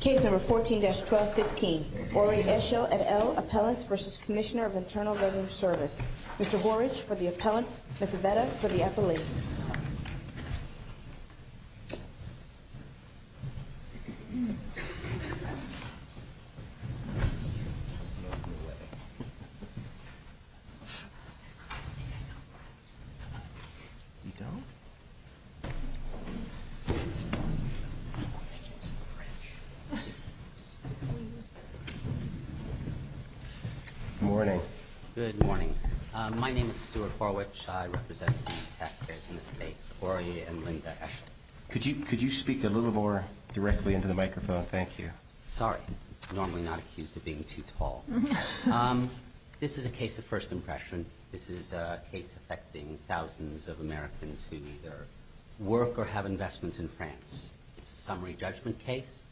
Case number 14-1215, Ory Eshel et al, Appellants v. Commissioner of Internal Revenue Service. Mr. Horwich for the appellants, Ms. Aveda for the appellee. Good morning. My name is Stuart Horwich, I represent the taxpayers in this case, Ory and Linda Eshel. Could you speak a little more directly into the microphone? Thank you. Sorry. I'm normally not accused of being too tall. This is a case of first impression. This is a case affecting thousands of Americans who either work or have investments in France. It's a summary judgment case,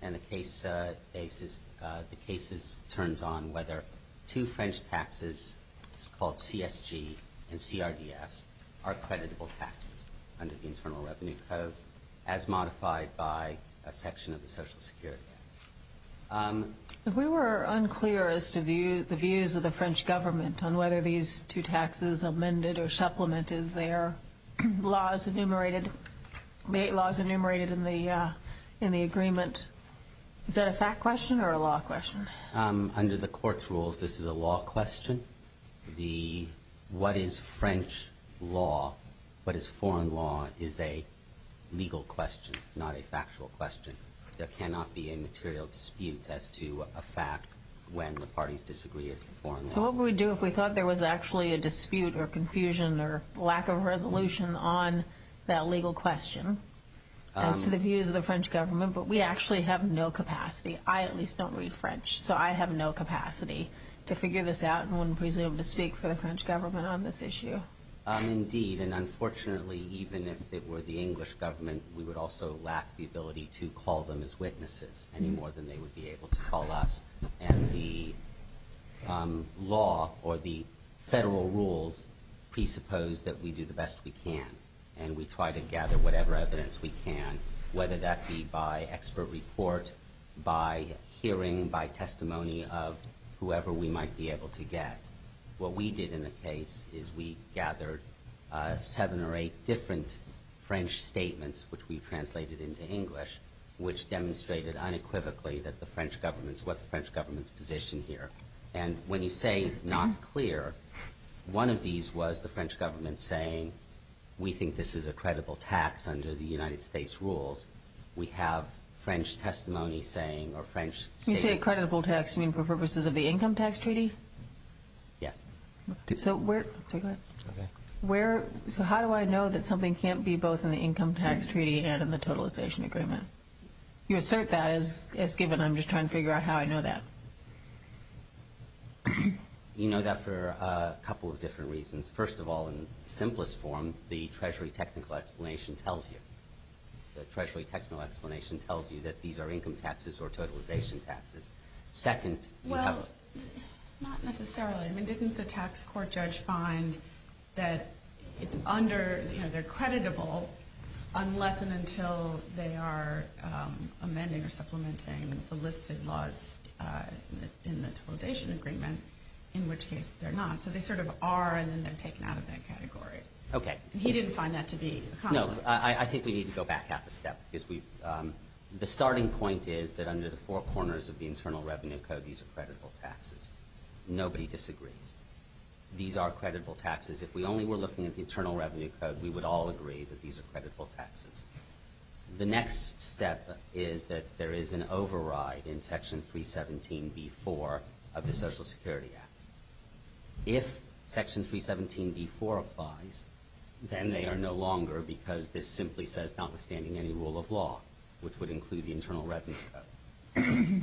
and the case is, the case turns on whether two French taxes, it's called CSG and CRDS, are creditable taxes under the Internal Revenue Code as modified by a section of the Social Security Act. We were unclear as to the views of the French government on whether these two taxes amended or supplemented their laws enumerated, the eight laws enumerated in the agreement. Is that a fact question or a law question? Under the court's rules, this is a law question. What is French law, what is foreign law, is a legal question, not a factual question. There cannot be a material dispute as to a fact when the parties disagree as to foreign law. So what would we do if we thought there was actually a dispute or confusion or lack of resolution on that legal question as to the views of the French government, but we actually have no capacity? I at least don't read French, so I have no capacity to figure this out and wouldn't presume to speak for the French government on this issue. Indeed, and unfortunately, even if it were the English government, we would also lack the ability to call them as witnesses any more than they would be able to call us. And the law or the federal rules presuppose that we do the best we can, and we try to gather whatever evidence we can, whether that be by expert report, by hearing, by testimony of whoever we might be able to get. What we did in the case is we gathered seven or eight different French statements, which we translated into English, which demonstrated unequivocally that the French government's position here. And when you say not clear, one of these was the French government saying, we think this is a credible tax under the United States rules. We have French testimony saying, or French statements. You say a credible tax, you mean for purposes of the income tax treaty? Yes. So where, so how do I know that something can't be both in the income tax treaty and in the totalization agreement? You assert that as given, I'm just trying to figure out how I know that. You know that for a couple of different reasons. First of all, in simplest form, the Treasury technical explanation tells you. The Treasury technical explanation tells you that these are income taxes or totalization taxes. Second, you have a- Well, not necessarily. I mean, didn't the tax court judge find that it's under, you know, they're creditable unless and until they are amending or supplementing the listed laws in the totalization agreement, in which case they're not. So they sort of are, and then they're taken out of that category. Okay. He didn't find that to be a consequence. No. I think we need to go back half a step, because we, the starting point is that under the four corners of the Internal Revenue Code, these are creditable taxes. Nobody disagrees. These are creditable taxes. If we only were looking at the Internal Revenue Code, we would all agree that these are creditable taxes. The next step is that there is an override in Section 317b-4 of the Social Security Act. If Section 317b-4 applies, then they are no longer, because this simply says notwithstanding any rule of law, which would include the Internal Revenue Code.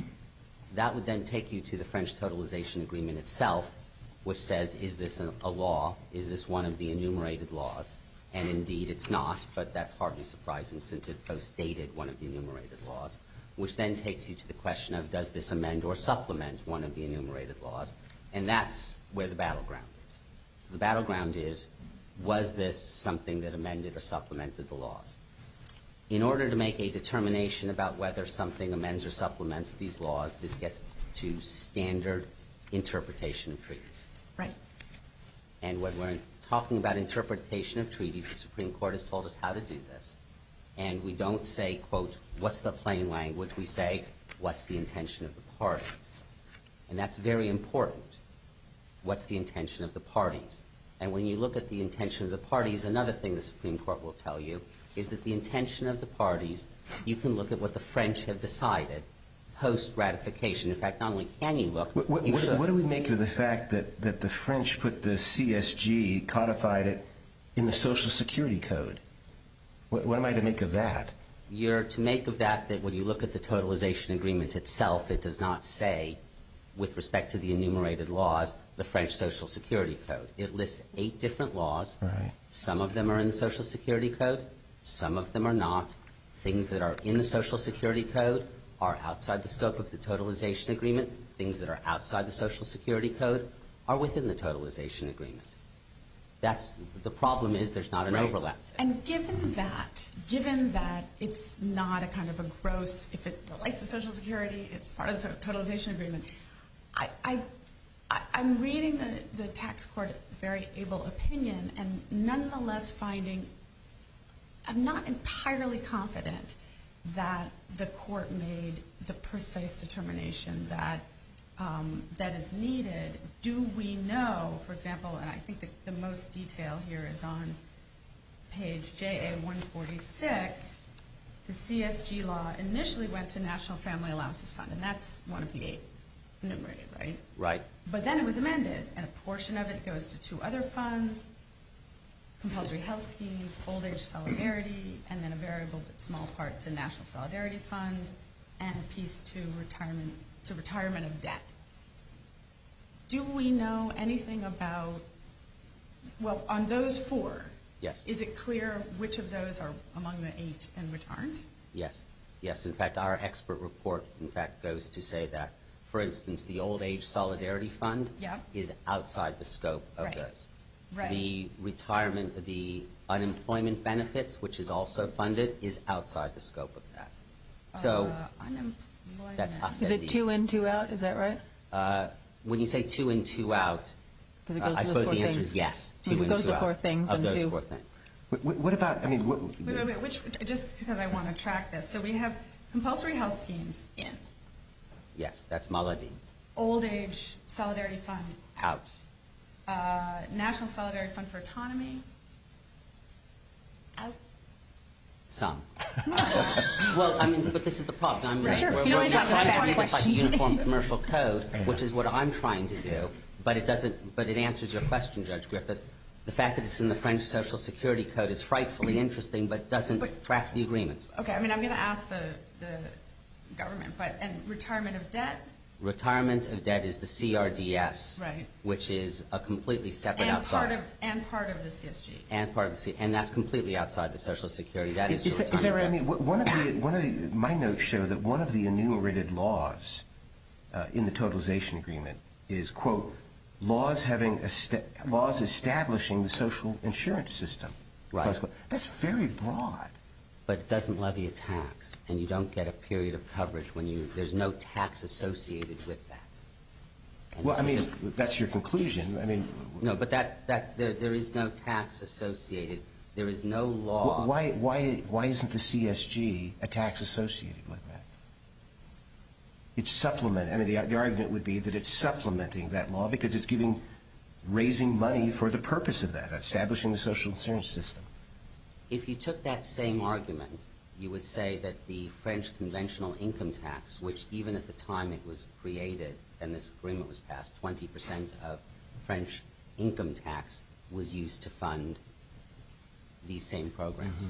That would then take you to the French totalization agreement itself, which says, is this a law? Is this one of the enumerated laws? And indeed, it's not, but that's hardly surprising, since it postdated one of the enumerated laws, which then takes you to the question of, does this amend or supplement one of the enumerated laws? And that's where the battleground is. So the battleground is, was this something that amended or supplemented the laws? In order to make a determination about whether something amends or supplements these laws, this gets to standard interpretation of treaties. Right. And when we're talking about interpretation of treaties, the Supreme Court has told us how to do this. And we don't say, quote, what's the plain language? We say, what's the intention of the parties? And that's very important. What's the intention of the parties? And when you look at the intention of the parties, another thing the Supreme Court will tell you is that the intention of the parties, you can look at what the French have decided post-ratification. In fact, not only can you look, but you should. What do we make of the fact that the French put the CSG, codified it, in the Social Security Code? What am I to make of that? You're to make of that that when you look at the totalization agreement itself, it does not say, with respect to the enumerated laws, the French Social Security Code. It lists eight different laws. Some of them are in the Social Security Code. Some of them are not. Things that are in the Social Security Code are outside the scope of the totalization agreement. Things that are outside the Social Security Code are within the totalization agreement. The problem is there's not an overlap. And given that, given that it's not a kind of a gross, if it relates to Social Security, it's part of the totalization agreement, I'm reading the tax court very able opinion and nonetheless finding I'm not entirely confident that the court made the precise determination that is needed. Do we know, for example, and I think the most detail here is on page JA-146, the CSG law initially went to National Family Allowances Fund, and that's one of the eight enumerated, right? Right. But then it was amended, and a portion of it goes to two other funds, Compulsory Health Schemes, Old Age Solidarity, and then a variable but small part to National Solidarity Fund, and a piece to Retirement of Debt. Do we know anything about, well on those four, is it clear which of those are among the eight and which aren't? Yes. Yes. In fact, our expert report, in fact, goes to say that, for instance, the Old Age Solidarity Fund is outside the scope of those. The retirement, the unemployment benefits, which is also funded, is outside the scope of that. So, that's Hasidim. Is it two in, two out? Is that right? When you say two in, two out, I suppose the answer is yes, two in, two out of those four things. What about, I mean, what? Wait, wait, wait. Just because I want to track this. So we have Compulsory Health Schemes in. Yes. That's Maladin. Old Age Solidarity Fund. Out. National Solidarity Fund for Autonomy. Out. Some. Well, I mean, but this is the problem. We're trying to identify uniform commercial code, which is what I'm trying to do. But it doesn't, but it answers your question, Judge Griffith. The fact that it's in the French Social Security Code is frightfully interesting, but doesn't track the agreement. Okay. I mean, I'm going to ask the government, but, and retirement of debt? Retirement of debt is the CRDS. Right. Which is a completely separate outside. And part of the CSG. And part of the CSG. And that's completely outside the Social Security. Is there, I mean, one of the, my notes show that one of the enumerated laws in the totalization agreement is, quote, laws having, laws establishing the social insurance system. Right. That's very broad. But it doesn't levy a tax. And you don't get a period of coverage when you, there's no tax associated with that. Well, I mean, that's your conclusion. I mean. No, but that, there is no tax associated. There is no law. Why, why, why isn't the CSG a tax associated with that? It's supplement, I mean, the argument would be that it's supplementing that law because it's giving, raising money for the purpose of that. Establishing the social insurance system. If you took that same argument, you would say that the French conventional income tax, which even at the time it was created and this agreement was passed, 20% of French income tax was used to fund these same programs.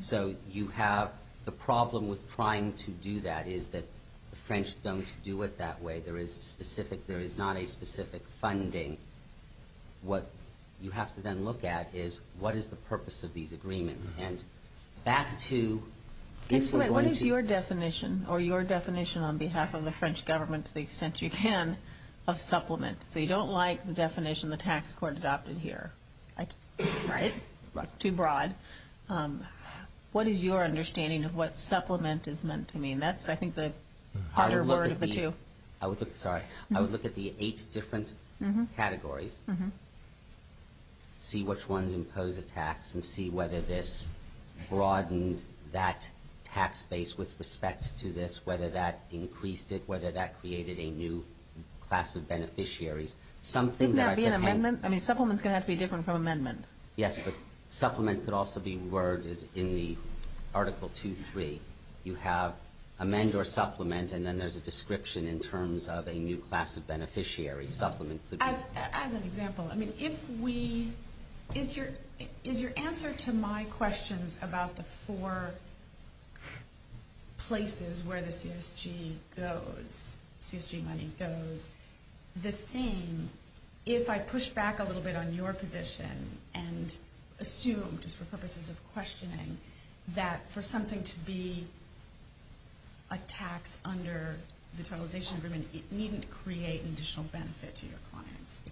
So, you have the problem with trying to do that is that the French don't do it that way. There is a specific, there is not a specific funding. What you have to then look at is, what is the purpose of these agreements? And back to, if we're going to. What is your definition, or your definition on behalf of the French government to the extent you can, of supplement? So, you don't like the definition the tax court adopted here, right? Too broad. What is your understanding of what supplement is meant to mean? That's, I think, the harder word of the two. I would look at the, sorry, I would look at the eight different categories. See which ones impose a tax and see whether this broadened that tax base with respect to this, whether that increased it, whether that created a new class of beneficiaries. Couldn't that be an amendment? I mean, supplement is going to have to be different from amendment. Yes, but supplement could also be worded in the Article 2.3. You have amend or supplement and then there is a description in terms of a new class of beneficiary. Supplement could be. As an example, I mean, if we, is your answer to my questions about the four places where the CSG goes, CSG money goes, the same if I push back a little bit on your position and assume, just for purposes of questioning, that for something to be a tax under the CSG, it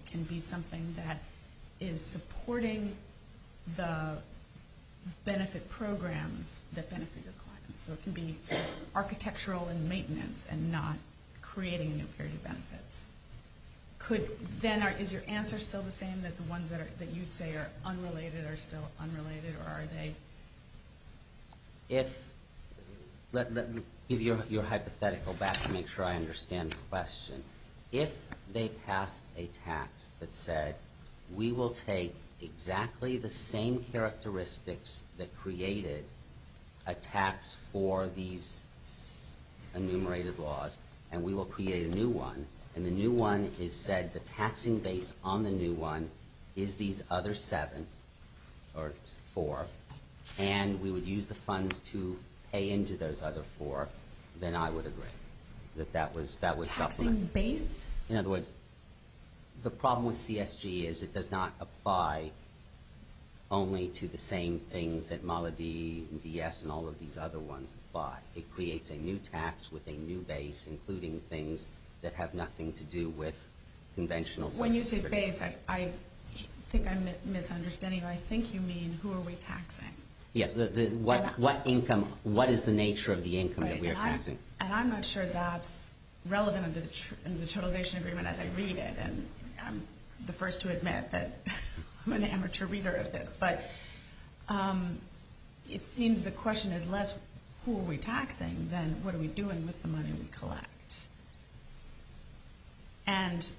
can be something that is supporting the benefit programs that benefit the clients. So it can be architectural and maintenance and not creating a new period of benefits. Could then, is your answer still the same that the ones that you say are unrelated are still unrelated or are they? If, let me give you a hypothetical back to make sure I understand the question. If they passed a tax that said, we will take exactly the same characteristics that created a tax for these enumerated laws and we will create a new one and the new one is said, the taxing base on the new one is these other seven, or four, and we would use the funds to pay into those other four, then I would agree that that was supplement. In other words, the problem with CSG is it does not apply only to the same things that Maladi, VS, and all of these other ones apply. It creates a new tax with a new base, including things that have nothing to do with conventional When you say base, I think I'm misunderstanding. I think you mean, who are we taxing? Yes, what income, what is the nature of the income that we are taxing? And I'm not sure that's relevant under the totalization agreement as I read it. And I'm the first to admit that I'm an amateur reader of this. But it seems the question is less, who are we taxing, than what are we doing with the money we collect? And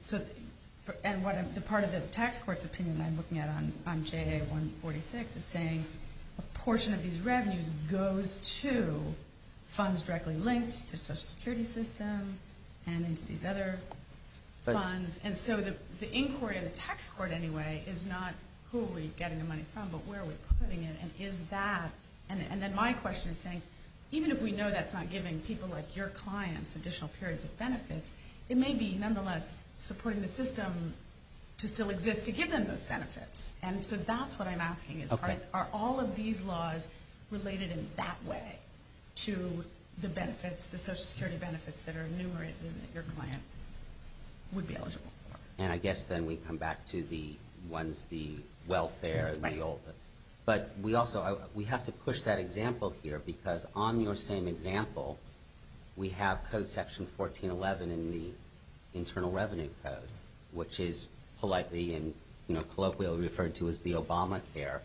part of the tax court's opinion that I'm looking at on JA-146 is saying a portion of these revenues goes to funds directly linked to the social security system and into these other funds. And so the inquiry of the tax court, anyway, is not who are we getting the money from, but where are we putting it, and is that, and then my question is saying, even if we know that's not giving people like your clients additional periods of benefits, it may be nonetheless supporting the system to still exist to give them those benefits. And so that's what I'm asking is, are all of these laws related in that way to the benefits, the social security benefits that are enumerated in your plan, would be eligible? And I guess then we come back to the ones, the welfare, the old, but we also, we have to push that example here because on your same example, we have Code Section 1411 in the Internal Revenue Code, which is politely and colloquially referred to as the Obama Care.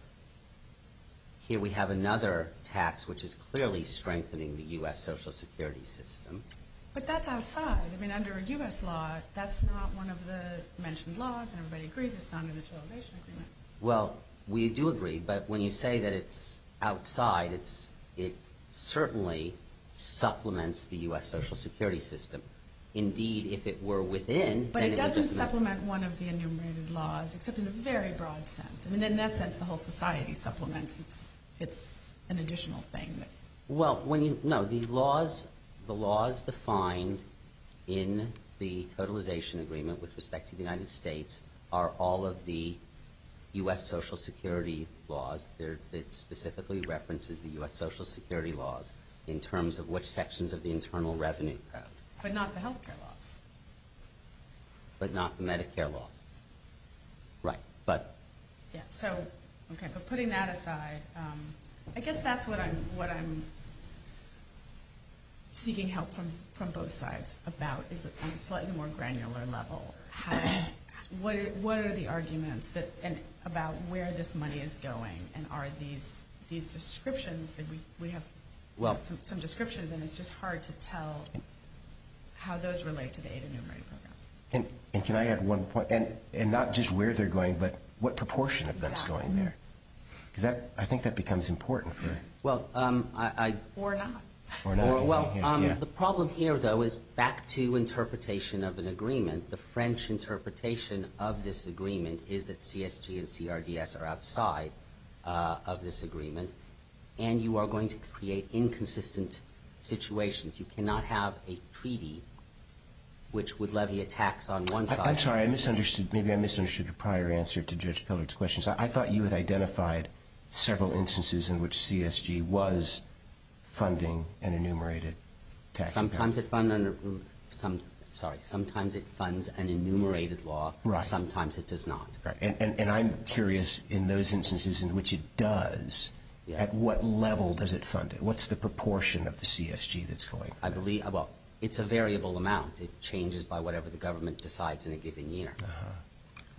Here we have another tax which is clearly strengthening the U.S. social security system. But that's outside. I mean, under U.S. law, that's not one of the mentioned laws, and everybody agrees it's not an intervention agreement. Well, we do agree, but when you say that it's outside, it certainly supplements the U.S. social security system. Indeed, if it were within, then it would supplement it. But it doesn't supplement one of the enumerated laws, except in a very broad sense. I mean, in that sense, the whole society supplements. It's an additional thing. Well, no, the laws defined in the totalization agreement with respect to the United States are all of the U.S. social security laws. It specifically references the U.S. social security laws in terms of which sections of the Internal Revenue Code. But not the health care laws. But not the Medicare laws. Right. But... Yeah, so, okay, but putting that aside, I guess that's what I'm seeking help from both sides about, is that on a slightly more granular level, what are the arguments about where this money is going, and are these descriptions that we have some descriptions, and it's just hard to tell how those relate to the adenumerated programs. And can I add one point? And not just where they're going, but what proportion of them is going there? Because I think that becomes important for... Well, I... Or not. Or not. Well, the problem here, though, is back to interpretation of an agreement. The French interpretation of this agreement is that CSG and CRDS are outside of this situation. You cannot have a treaty which would levy a tax on one side... I'm sorry. I misunderstood. Maybe I misunderstood your prior answer to Judge Pillard's questions. I thought you had identified several instances in which CSG was funding an enumerated tax package. Sometimes it funds under... Sorry. Sometimes it funds an enumerated law. Right. Sometimes it does not. Right. And I'm curious, in those instances in which it does, at what level does it fund it? What's the proportion of the CSG that's going? I believe... Well, it's a variable amount. It changes by whatever the government decides in a given year. Uh-huh.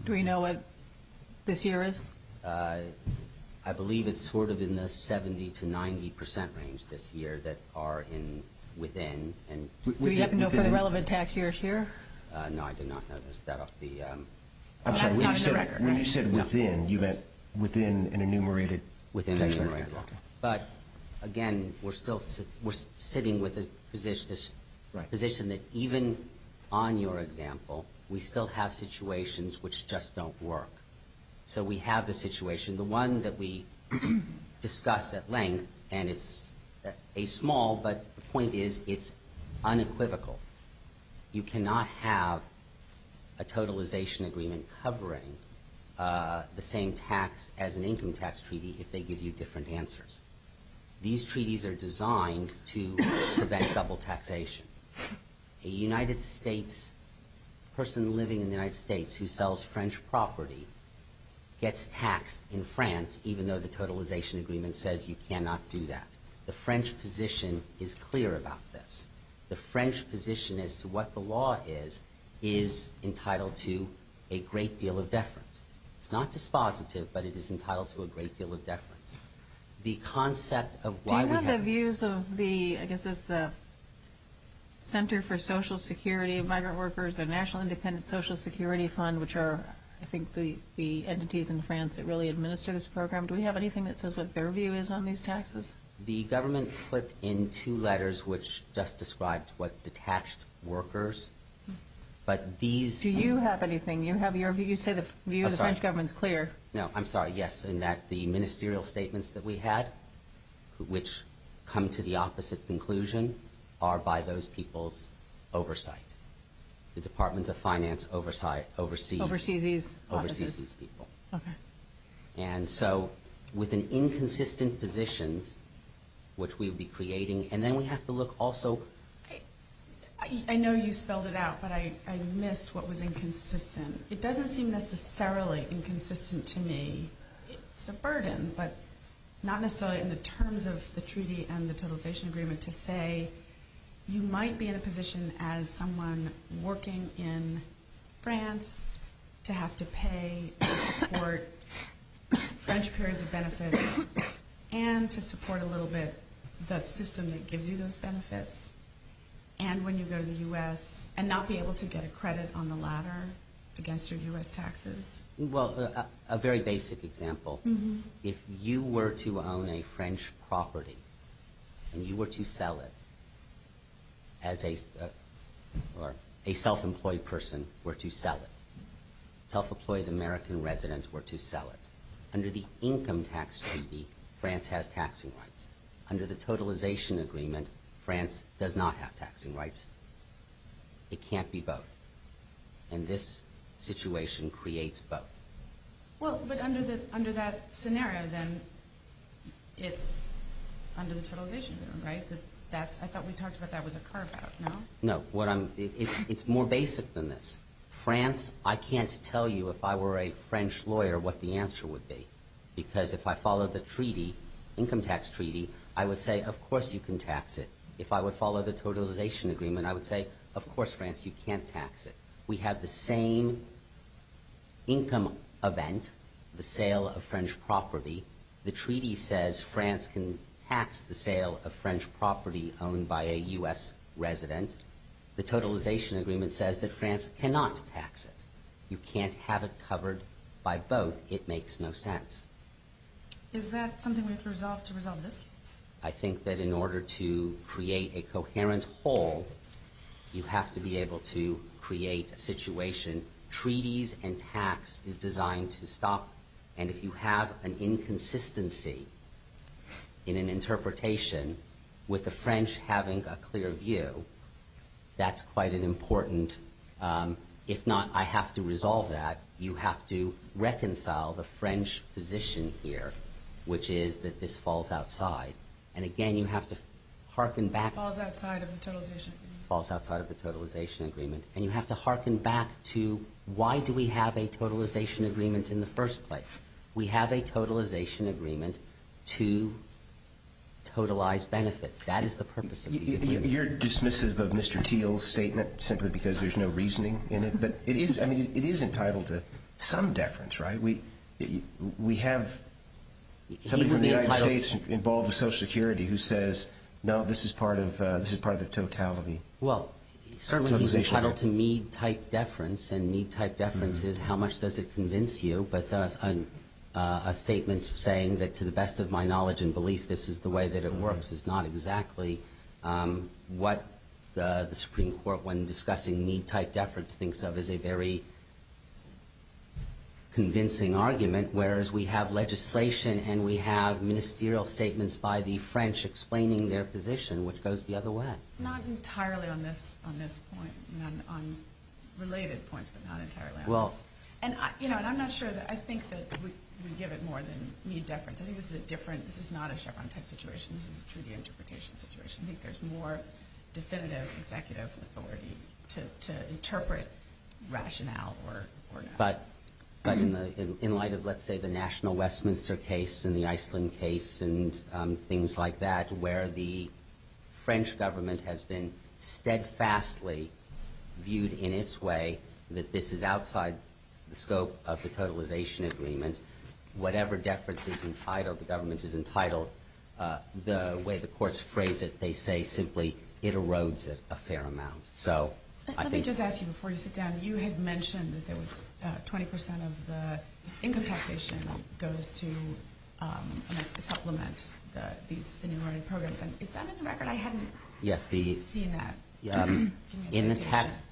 Do we know what this year is? I believe it's sort of in the 70 to 90 percent range this year that are within... Do we have to know for the relevant tax years here? No, I did not notice that off the... That's not in the record. I'm sorry. When you said within, you meant within an enumerated tax package? Within an enumerated law. Okay. But, again, we're still... We're sitting with a position that even on your example, we still have situations which just don't work. So we have the situation. The one that we discuss at length, and it's a small, but the point is it's unequivocal. You cannot have a totalization agreement covering the same tax as an income tax treaty if they give you different answers. These treaties are designed to prevent double taxation. A United States... A person living in the United States who sells French property gets taxed in France even though the totalization agreement says you cannot do that. The French position is clear about this. The French position as to what the law is is entitled to a great deal of deference. It's not dispositive, but it is entitled to a great deal of deference. The concept of why we have... Do you have the views of the... I guess it's the Center for Social Security of Migrant Workers, the National Independent Social Security Fund, which are, I think, the entities in France that really administer this program. Do we have anything that says what their view is on these taxes? The government put in two letters which just described what detached workers, but these... Do you have anything? You say the view of the French government is clear. No, I'm sorry. Yes, in that the ministerial statements that we had, which come to the opposite conclusion, are by those people's oversight. The Department of Finance oversees... Oversees these offices. Oversees these people. Okay. And so with an inconsistent positions, which we would be creating... And then we have to look also... I know you spelled it out, but I missed what was inconsistent. It doesn't seem necessarily inconsistent to me. It's a burden, but not necessarily in the terms of the treaty and the totalization agreement to say you might be in a position as someone working in France to have to pay to support French periods of benefits and to support a little bit the system that gives you those benefits. And when you go to the U.S. and not be able to get a credit on the ladder against your U.S. taxes. Well, a very basic example. If you were to own a French property and you were to sell it as a self-employed person were to sell it. Self-employed American residents were to sell it. Under the income tax treaty, France has taxing rights. Under the totalization agreement, France does not have taxing rights. It can't be both. And this situation creates both. Well, but under that scenario then, it's under the totalization agreement, right? I thought we talked about that was a carve out, no? No. It's more basic than this. France, I can't tell you if I were a French lawyer what the answer would be. Because if I followed the treaty, income tax treaty, I would say, of course you can tax it. If I would follow the totalization agreement, I would say, of course, France, you can't tax it. We have the same income event, the sale of French property. The treaty says France can tax the sale of French property owned by a U.S. resident. The totalization agreement says that France cannot tax it. You can't have it covered by both. It makes no sense. Is that something we have to resolve to resolve this case? I think that in order to create a coherent whole, you have to be able to create a situation. Treaties and tax is designed to stop. And if you have an inconsistency in an interpretation with the French having a clear view, that's quite an important, if not I have to resolve that, you have to reconcile the French position here, which is that this falls outside. And again, you have to harken back. Falls outside of the totalization agreement. Falls outside of the totalization agreement. And you have to harken back to why do we have a totalization agreement in the first place? We have a totalization agreement to totalize benefits. That is the purpose of these agreements. You're dismissive of Mr. Thiel's statement simply because there's no reasoning in it. But it is entitled to some deference, right? We have somebody from the United States involved with Social Security who says, no, this is part of the totality. Well, certainly he's entitled to mead-type deference. And mead-type deference is how much does it convince you? But a statement saying that to the best of my knowledge and belief, this is the way that it works is not exactly what the Supreme Court, when discussing mead-type deference, thinks of as a very convincing argument. Whereas we have legislation and we have ministerial statements by the French explaining their position, which goes the other way. Not entirely on this point. On related points, but not entirely on this. And I'm not sure that I think that we give it more than mead deference. I think this is not a Chevron-type situation. This is a treaty interpretation situation. I think there's more definitive executive authority to interpret rationale or not. But in light of, let's say, the national Westminster case and the Iceland case and things like that, where the French government has been steadfastly viewed in its way that this is outside the scope of the totalization agreement, whatever deference is entitled, the government is entitled, or the way the courts phrase it, they say simply, it erodes it a fair amount. Let me just ask you before you sit down, you had mentioned that 20% of the income taxation goes to supplement the new learning programs. Is that in the record? I hadn't seen that. In the tax,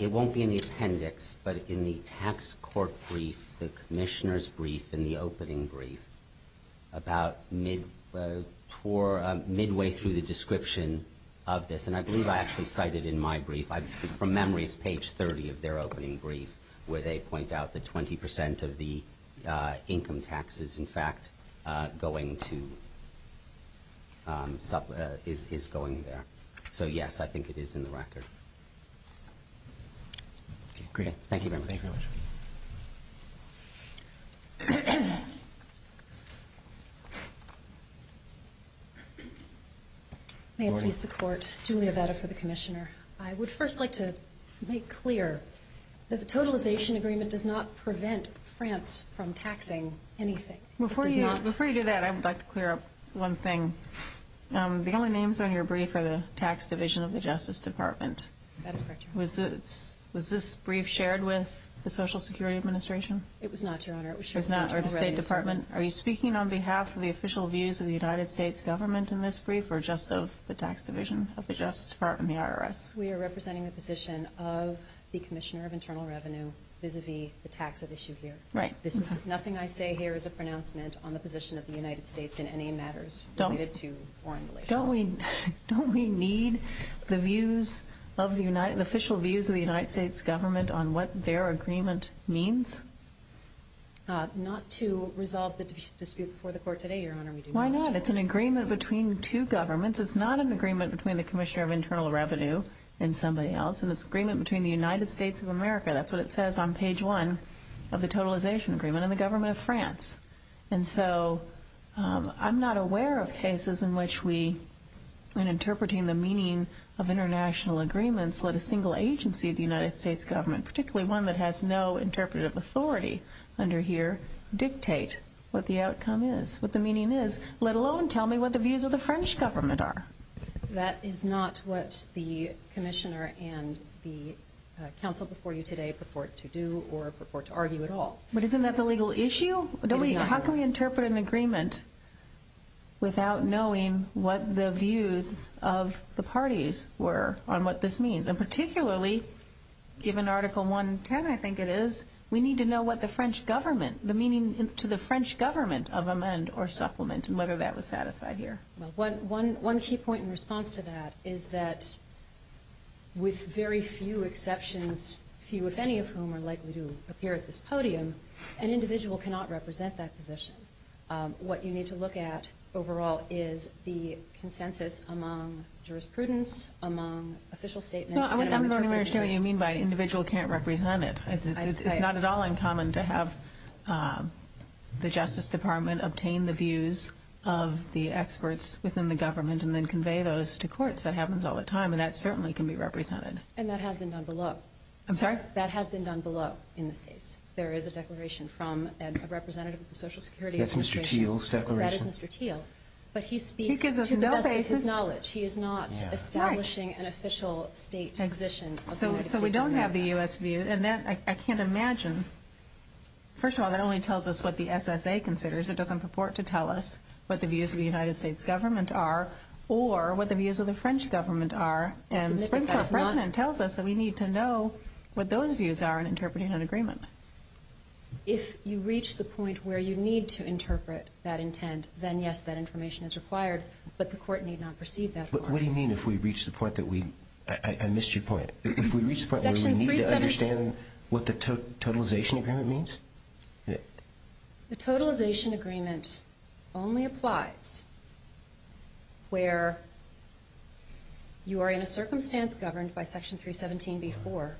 it won't be in the appendix, but in the tax court brief, the commissioner's brief, in the opening brief, about midway through the description of this. And I believe I actually cited in my brief, from memory, it's page 30 of their opening brief, where they point out that 20% of the income tax is in fact going to, is going there. So yes, I think it is in the record. Okay, great. Thank you very much. May it please the court, Julia Veda for the commissioner. I would first like to make clear that the totalization agreement does not prevent France from taxing anything. Before you do that, I would like to clear up one thing. The only names on your brief are the tax division of the Justice Department. That is correct, Your Honor. Was this brief shared with the Social Security Administration? It was not, Your Honor. Or the State Department? Are you speaking on behalf of the official views of the United States government in this brief, or just of the tax division of the Justice Department, the IRS? We are representing the position of the Commissioner of Internal Revenue vis-a-vis the tax at issue here. Nothing I say here is a pronouncement on the position of the United States in any matters related to foreign relations. Don't we need the official views of the United States government on what their agreement means? Not to resolve the dispute before the court today, Your Honor. Why not? It's an agreement between two governments. It's not an agreement between the Commissioner of Internal Revenue and somebody else. It's an agreement between the United States of America. That's what it says on page one of the totalization agreement and the government of France. And so I'm not aware of cases in which we, in interpreting the meaning of international agreements, let a single agency of the United States government, particularly one that has no interpretive authority under here, dictate what the outcome is, what the meaning is, let alone tell me what the views of the French government are. That is not what the Commissioner and the counsel before you today purport to do or purport to argue at all. But isn't that the legal issue? How can we interpret an agreement without knowing what the views of the parties were on what this means? And particularly, given Article 110, I think it is, we need to know what the French government, the meaning to the French government of amend or supplement, and whether that was satisfied here. One key point in response to that is that with very few exceptions, few if any of whom are likely to appear at this podium, an individual cannot represent that position. What you need to look at overall is the consensus among jurisprudence, among official statements, and among interpretations. No, I'm not sure what you mean by individual can't represent it. It's not at all uncommon to have the Justice Department obtain the views of the experts within the government and then convey those to courts. That happens all the time, and that certainly can be represented. And that has been done below. That has been done below in this case. There is a declaration from a representative of the Social Security Administration. That's Mr. Thiel's declaration. But he speaks to the best of his knowledge. He is not establishing an official state position. So we don't have the U.S. view. I can't imagine. First of all, that only tells us what the SSA considers. It doesn't purport to tell us what the views of the United States government are or what the views of the French government are. And the French President tells us that we need to know what those views are in interpreting an agreement. If you reach the point where you need to interpret that intent, then yes, that information is required. But the court need not proceed that far. What do you mean if we reach the point that we I missed your point. If we reach the point where we need to understand what the totalization agreement means? The totalization agreement only applies where you are in a circumstance governed by section 317 before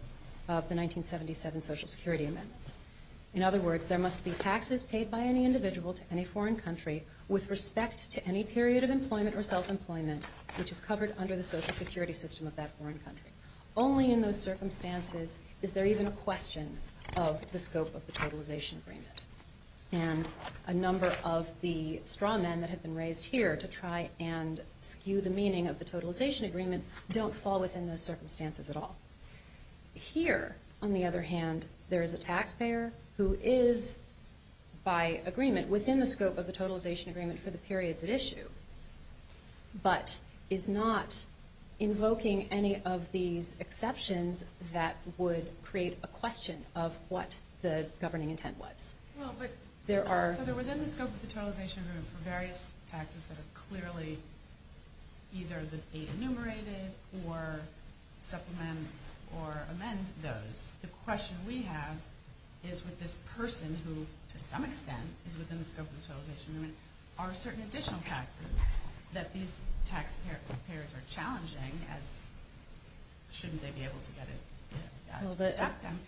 the 1977 social security amendments. In other words, there must be taxes paid by any individual to any foreign country with respect to any period of employment or self-employment which is covered under the social security system of that foreign country. Only in those circumstances is there even a question of the scope of the totalization agreement. And a number of the straw men that have been raised here to try and skew the meaning of the totalization agreement don't fall within those circumstances at all. Here, on the other hand, there is a taxpayer who is by agreement within the scope of the totalization agreement for the periods at issue but is not invoking any of these exceptions that would create a question of what the governing intent was. So they're within the scope of the totalization agreement for various taxes that are clearly either the aid enumerated or supplement or amend those. The question we have is with this person who, to some extent, is within the scope of the totalization agreement are certain additional taxes that these taxpayers are challenging as shouldn't they be able to get it to deduct them?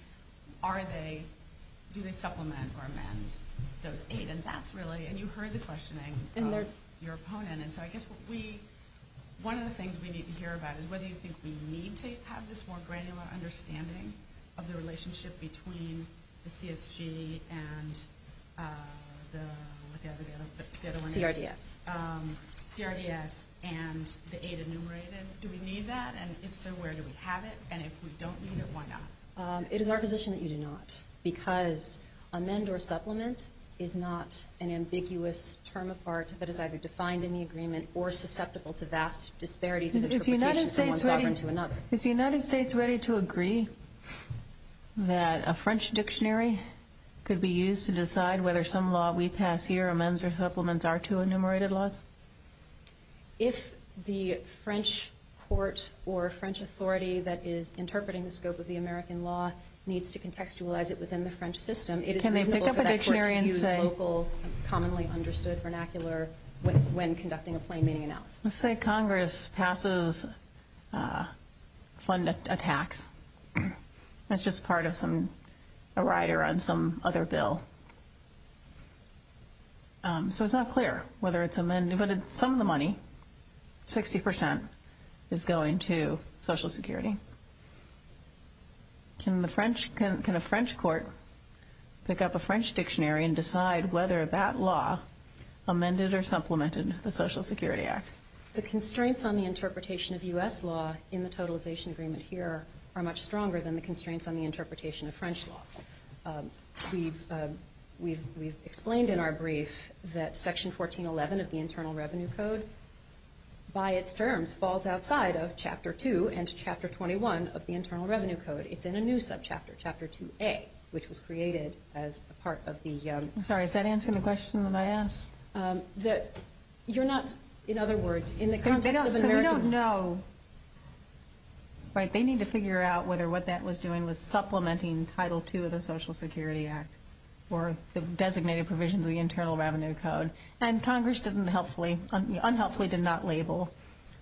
Do they supplement or amend those aid? And you heard the questioning of your opponent. One of the things we need to hear about is whether you think we need to have this more granular understanding of the relationship between the CSG and the CRDS. CRDS and the aid enumerated. Do we need that? And if so, where do we have it? And if we don't need it, why not? It is our position that you do not because amend or supplement is not an ambiguous term of part that is either defined in the agreement or susceptible to vast disparities in interpretation from one sovereign to another. Is the United States ready to agree that a French dictionary could be used to decide whether some law we pass here, amends or supplements, are two enumerated laws? If the French court or French authority that is interpreting the scope of the American law needs to contextualize it within the French system, it is reasonable for that court to use local, commonly understood vernacular when conducting a plain meaning analysis. Let's say Congress passes a tax. That's just part of a rider on some other bill. So it's not clear whether it's amended, but some of the money, 60%, is going to Social Security. Can a French court pick up a French dictionary and decide whether that law amended or supplemented the Social Security Act? The constraints on the interpretation of U.S. law in the totalization agreement here are much stronger than the constraints on the interpretation of French law. We've explained in our brief that section 1411 of the Internal Revenue Code by its terms falls outside of Chapter 2 and Chapter 21 of the Internal Revenue Code. It's in a new subchapter, Chapter 2A, which was created as a part of the... Sorry, is that answering the question that I asked? You're not, in other words, in the context of an American... So we don't know... Right, they need to figure out whether what that was doing was supplementing Title II of the Social Security Act or the designated provisions of the Internal Revenue Code. And Congress didn't helpfully... unhelpfully did not label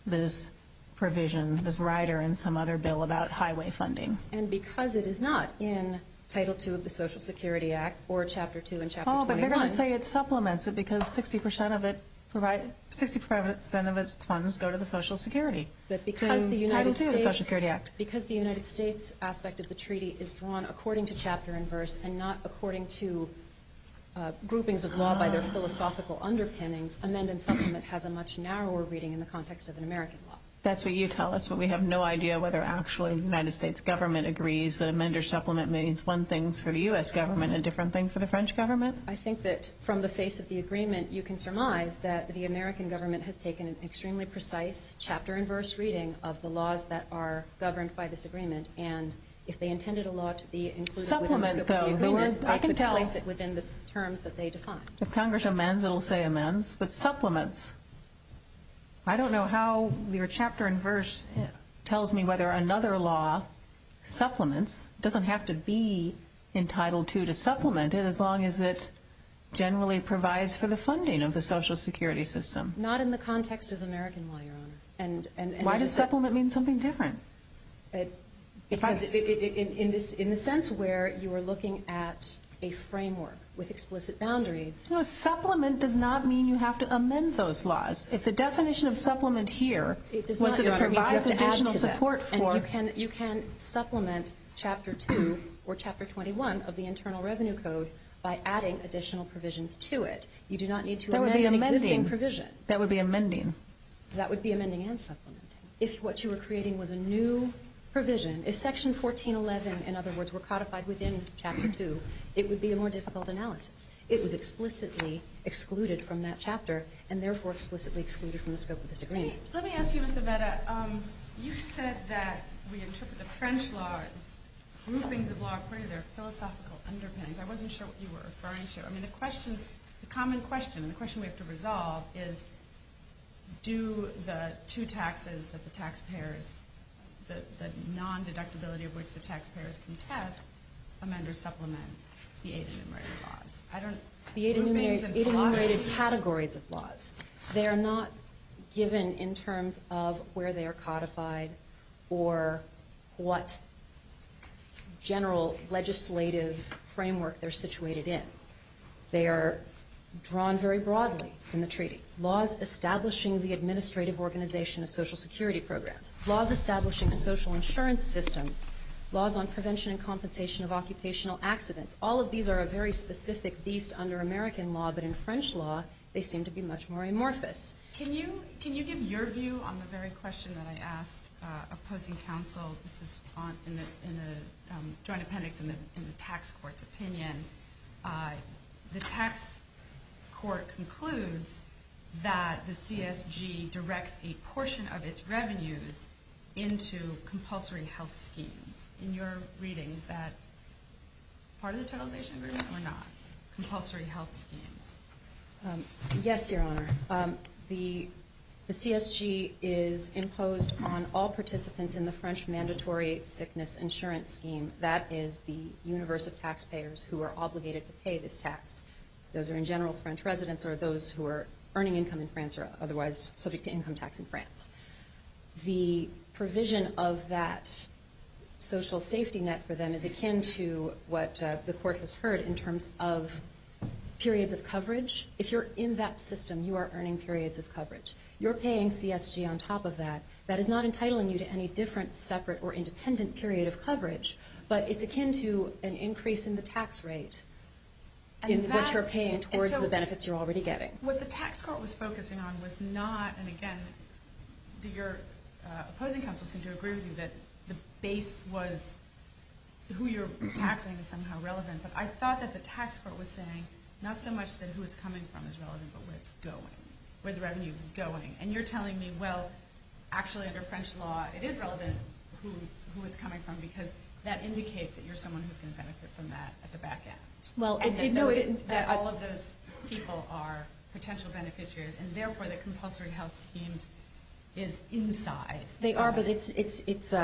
this provision, this rider in some other bill about highway funding. And because it is not in Title II of the Social Security Act or Chapter 2 and Chapter 21... Oh, but they're going to say it supplements it because 60% of it provides... 60% of its funds go to the Social Security. Title II of the Social Security Act. Because the United States aspect of the treaty is drawn according to chapter and verse and not according to groupings of law by their philosophical underpinnings, amend and supplement has a much narrower reading in the context of an American law. That's what you tell us, but we have no idea whether actually the United States government agrees that amend or supplement means one thing for the U.S. government and a different thing for the French government? I think that from the face of the agreement, you can surmise that the American government has taken an extremely precise chapter governed by this agreement, and if they intended a law to be included... Supplement though, I can tell... within the terms that they define. If Congress amends, it'll say amends, but supplements... I don't know how your chapter and verse tells me whether another law supplements, doesn't have to be entitled to to supplement it as long as it generally provides for the funding of the Social Security system. Not in the context of American law, Your Honor. Why does supplement mean something different? Because in the sense where you are looking at a framework with explicit boundaries... Supplement does not mean you have to amend those laws. If the definition of supplement here, once it provides additional support for... You can supplement Chapter 2 or Chapter 21 of the Internal Revenue Code by adding additional provisions to it. You do not need to amend an existing provision. That would be amending. That would be amending and supplementing. If what you were creating was a new provision, if Section 1411, in other words, were codified within Chapter 2, it would be a more difficult analysis. It was explicitly excluded from that chapter and therefore explicitly excluded from the scope of this agreement. Let me ask you, Ms. Aveda, you said that we interpret the French law as groupings of law according to their philosophical underpinnings. I wasn't sure what you were referring to. I mean, the question, the common question, the question we have to resolve is do the two taxes that the non-deductibility of which the taxpayers contest amend or supplement the eight enumerated laws? The eight enumerated categories of laws. They are not given in terms of where they are codified or what general legislative framework they're situated in. They are drawn very broadly in the treaty. Laws establishing the administrative organization of Social Security programs. Laws establishing social insurance systems. Laws on prevention and compensation of occupational accidents. All of these are a very specific beast under American law, but in French law they seem to be much more amorphous. Can you give your view on the very question that I asked opposing counsel? This is in the joint appendix in the tax court's opinion. The tax court concludes that the CSG directs a portion of its revenues into compulsory health schemes. In your readings, that part of the totalization agreement or not? Compulsory health schemes. Yes, Your Honor. The CSG is imposed on all participants in the French mandatory sickness insurance scheme. That is the universe of taxpayers who are obligated to pay this tax. Those are in general French residents or those who are earning income in France or otherwise subject to income tax in France. The provision of that social safety net for them is akin to what the court has heard in terms of periods of coverage. If you're in that system, you are earning periods of coverage. You're paying CSG on top of that. That is not entitling you to any different separate or independent period of coverage, but it's akin to an increase in the tax rate in what you're paying towards the benefits you're already getting. What the tax court was focusing on was not, and again, your opposing counsel seemed to agree with you that the base was who you're taxing is somehow relevant, but I thought that the tax court was saying not so much that who it's coming from is relevant, but where it's going, where the revenue is going. And you're telling me, well, actually under French law, it is relevant who it's coming from because that indicates that you're someone who's going to benefit from that at the back end. And that all of those people are potential beneficiaries, and therefore the compulsory health schemes is inside. They are, but it's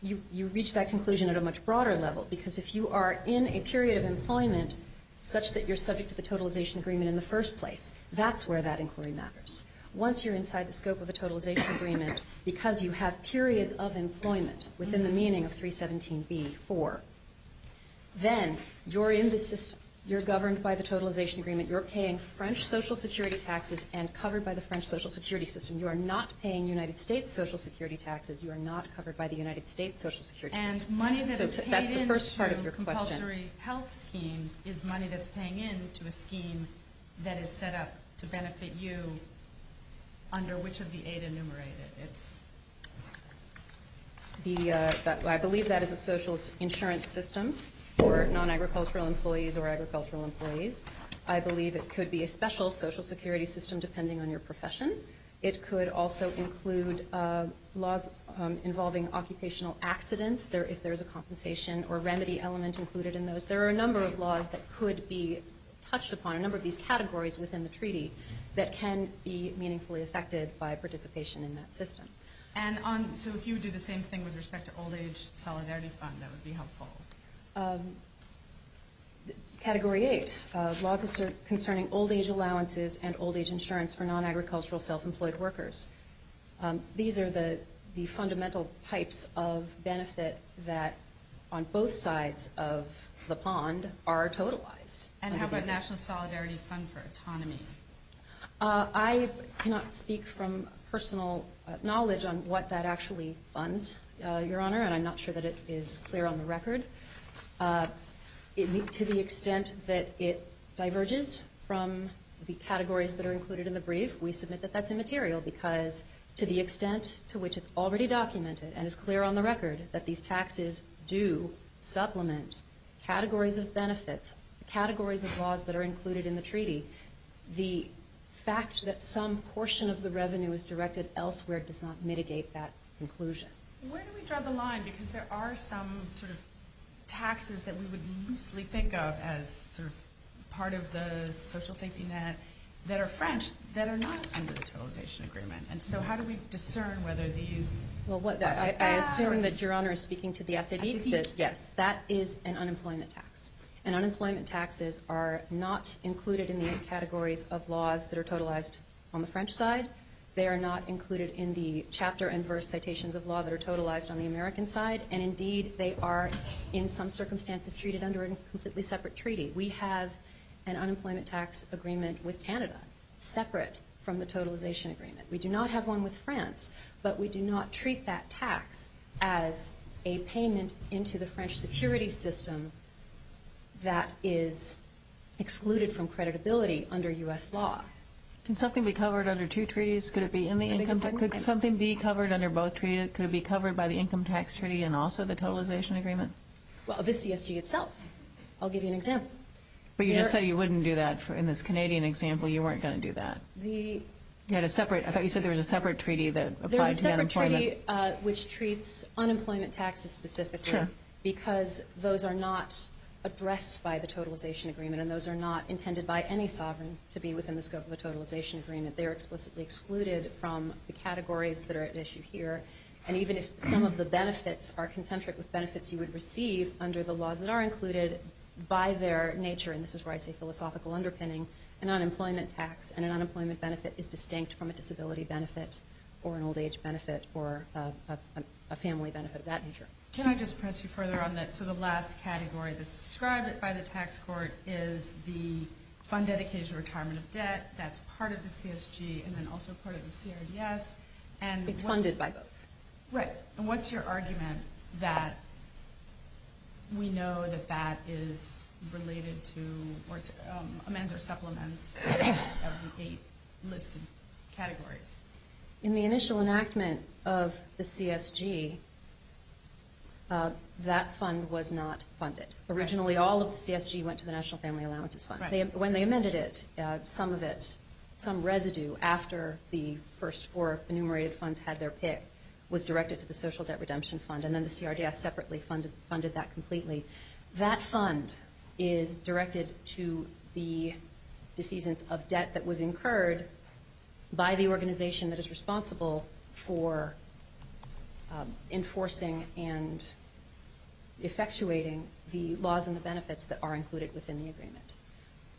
you reach that conclusion at a much broader level, because if you are in a period of employment such that you're subject to the totalization agreement in the first place, that's where that inquiry matters. Once you're inside the scope of a totalization agreement, because you have periods of employment within the meaning of 317b.4, then you're in the system. You're governed by the totalization agreement. You're paying French social security taxes and covered by the French social security system. You are not paying United States social security taxes. You are not covered by the United States social security system. And money that is paid into compulsory health schemes is money that's paying into a scheme that is set up to benefit you under which of the eight enumerated? I believe that there is a social insurance system for non-agricultural employees or agricultural employees. I believe it could be a special social security system depending on your profession. It could also include laws involving occupational accidents, if there's a compensation or remedy element included in those. There are a number of laws that could be touched upon, a number of these categories within the treaty that can be meaningfully affected by participation in that system. So if you would do the same thing with respect to old age solidarity fund that would be helpful. Category 8. Laws concerning old age allowances and old age insurance for non-agricultural self-employed workers. These are the fundamental types of benefit that on both sides of the pond are totalized. And how about national solidarity fund for autonomy? I cannot speak from personal knowledge on what that actually funds, Your Honor, and I'm not sure that it is clear on the record. To the extent that it diverges from the categories that are included in the brief, we submit that that's immaterial because to the extent to which it's already documented and is clear on the record that these taxes do supplement categories of benefits, categories of laws that are included in the treaty, the fact that some portion of the revenue is directed elsewhere does not mitigate that conclusion. Where do we draw the line? Because there are some sort of taxes that we would loosely think of as part of the social safety net that are French, that are not under the totalization agreement. So how do we discern whether these I assume that Your Honor is speaking to the SAD, but yes, that is an unemployment tax. And unemployment taxes are not included in the categories of laws that are totalized on the French side. They are not included in the chapter and verse citations of law that are totalized on the American side, and indeed they are in some circumstances treated under a completely separate treaty. We have an unemployment tax agreement with Canada separate from the totalization agreement. We do not have one with France, but we do not treat that tax as a payment into the French security system that is excluded from creditability under U.S. law. Can something be covered under two treaties? Could it be in the income tax? Could something be covered under both treaties? Could it be covered by the income tax treaty and also the totalization agreement? Well, this CSG itself. I'll give you an example. But you just said you wouldn't do that in this Canadian example. You weren't going to do that. You had a separate, I thought you said there was a separate treaty that applies to unemployment. There's a separate treaty which treats unemployment taxes specifically because those are not addressed by the totalization agreement, and those are not intended by any sovereign to be within the scope of a totalization agreement. They are explicitly excluded from the categories that are at issue here. And even if some of the benefits are concentric with benefits you would receive under the laws that are included by their nature, and this is where I say philosophical underpinning, an unemployment tax and an unemployment benefit is distinct from a disability benefit or an old age benefit or a family benefit of that nature. Can I just press you further on that? So the last category that's described by the tax court is the fund dedicated to retirement of debt. That's part of the CSG and then also part of the CRDS. It's funded by both. And what's your argument that we know that that is related to or amends or supplements of the eight listed categories? In the initial enactment of the CSG that fund was not funded. Originally all of the CSG went to the National Family Allowances Fund. When they amended it, some of it, some residue after the first four enumerated funds had their pick was directed to the Social Debt Redemption Fund and then the CRDS separately funded that completely. That fund is directed to the defeasance of debt that was incurred by the organization that is enforcing and effectuating the laws and the benefits that are included within the agreement.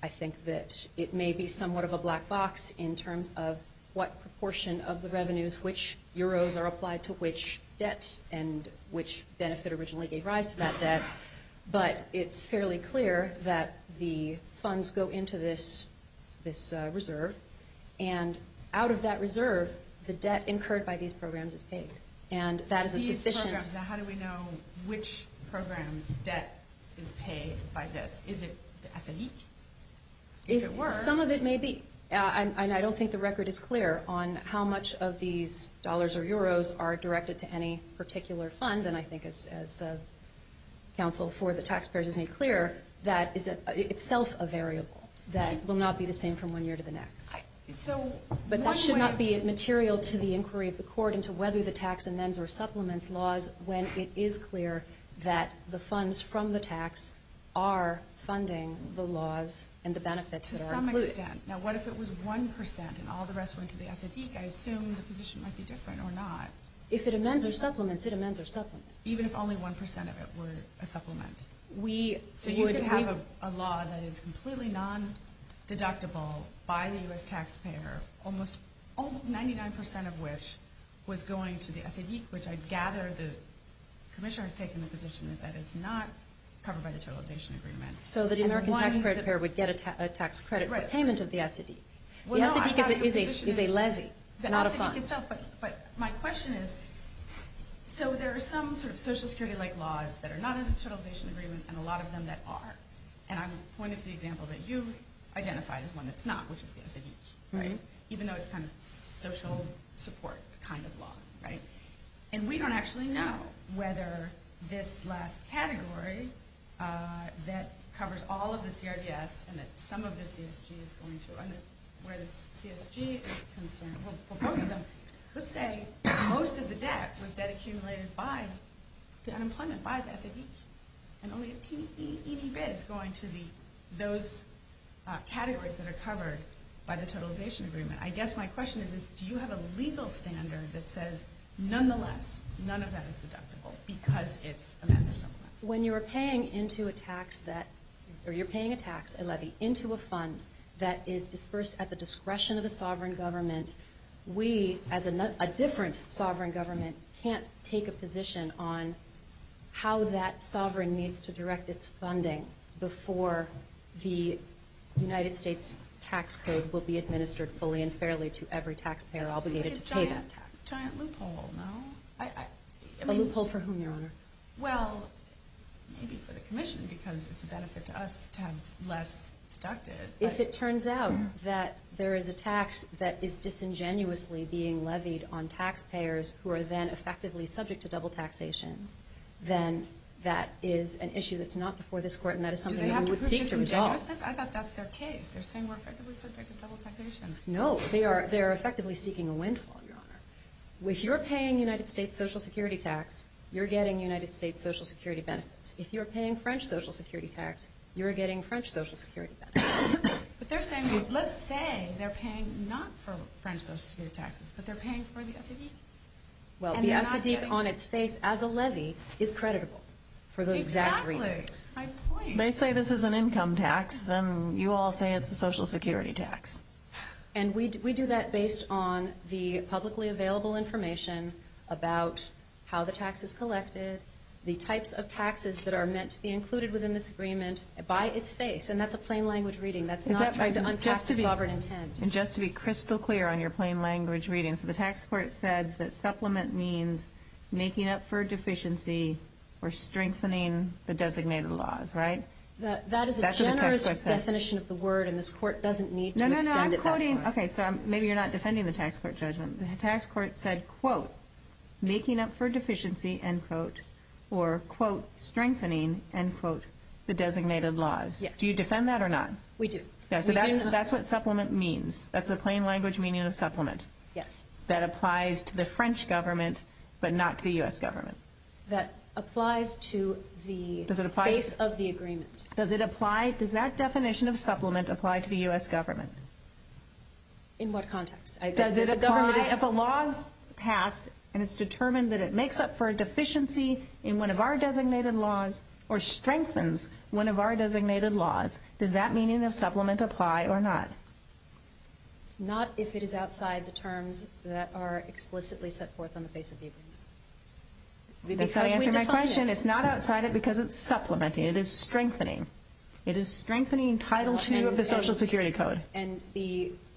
I think that it may be somewhat of a black box in terms of what proportion of the revenues, which euros are applied to which debt and which benefit originally gave rise to that debt, but it's fairly clear that the funds go into this reserve and out of that reserve the debt incurred by these programs is paid. And that is a suspicion. So how do we know which programs debt is paid by this? Is it the SAE? If it were. Some of it may be. I don't think the record is clear on how much of these dollars or euros are directed to any particular fund and I think as counsel for the taxpayers has made clear that is itself a variable that will not be the same from one year to the next. But that should not be material to the inquiry of the court into whether the tax amends or supplements laws when it is clear that the funds from the tax are funding the laws and the benefits that are included. Now what if it was 1% and all the rest went to the SADC? I assume the position might be different or not. If it amends or supplements, it amends or supplements. Even if only 1% of it were a supplement. So you could have a law that is completely non taxpayer, almost 99% of which was going to the SADC, which I gather the commissioner has taken the position that that is not covered by the totalization agreement. So the American taxpayer would get a tax credit for payment of the SADC. The SADC is a levy, not a fund. But my question is so there are some sort of social security like laws that are not in the totalization agreement and a lot of them that are. And I'm pointing to the example that you identified as one that's not, which is the SADC. Right? Even though it's kind of social support kind of law. Right? And we don't actually know whether this last category that covers all of the CRDS and that some of the CSG is going to, where the CSG is concerned, well both of them, let's say most of the debt was debt accumulated by the unemployment, by the SADC. And only a teeny, teeny bit is going to the, those categories that are covered by the totalization agreement. I guess my question is do you have a legal standard that says nonetheless, none of that is deductible because it's a massive sum of money. When you're paying into a tax that, or you're paying a tax, a levy, into a fund that is dispersed at the discretion of the sovereign government, we as a different sovereign government can't take a position on how that sovereign needs to direct its funding before the United States tax code will be administered fully and fairly to every taxpayer obligated to pay that tax. It's a giant loophole, no? A loophole for whom, Your Honor? Well, maybe for the commission because it's a benefit to us to have less deducted. If it turns out that there is a tax that is disingenuously being levied on taxpayers who are then effectively subject to double taxation, then that is an issue that's not before this court and that is something that we would seek to resolve. Do they have to prove disingenuousness? I thought that's their case. They're saying we're effectively subject to double taxation. No, they are effectively seeking a windfall, Your Honor. If you're paying United States Social Security tax, you're getting United States Social Security benefits. If you're paying French Social Security tax, you're getting French Social Security benefits. But they're saying, let's say they're paying not for French Social Security taxes, but they're paying for the SAD? Well, the SAD on its face as a levy is creditable for those exact reasons. Exactly. They say this is an income tax, then you all say it's a Social Security tax. And we do that based on the publicly available information about how the tax is collected, the types of taxes that are meant to be included within this agreement by its face. And that's a plain language reading. That's not trying to unpack the sovereign intent. And just to be crystal clear on your plain language reading, so the tax court said that supplement means making up for deficiency or strengthening the designated laws, right? That is a generous definition of the word, and this court doesn't need to extend it that far. Okay, so maybe you're not defending the tax court judgment. The tax court said, quote, making up for deficiency, end quote, or, quote, strengthening, end quote, the designated laws. Do you defend that or not? We do. So that's what supplement means. That's the plain language meaning of supplement. Yes. That applies to the French government, but not to the U.S. government. That applies to the face of the agreement. Does it apply? Does that definition of supplement apply to the U.S. government? In what context? Does it apply if a law is passed and it's determined that it makes up for a deficiency in one of our designated laws, or strengthens one of our designated laws, does that meaning of supplement apply or not? Not if it is outside the terms that are explicitly set forth on the face of the agreement. That's not answering my question. It's not outside it because it's supplementing. It is strengthening. It is strengthening Title II of the Social Security Code.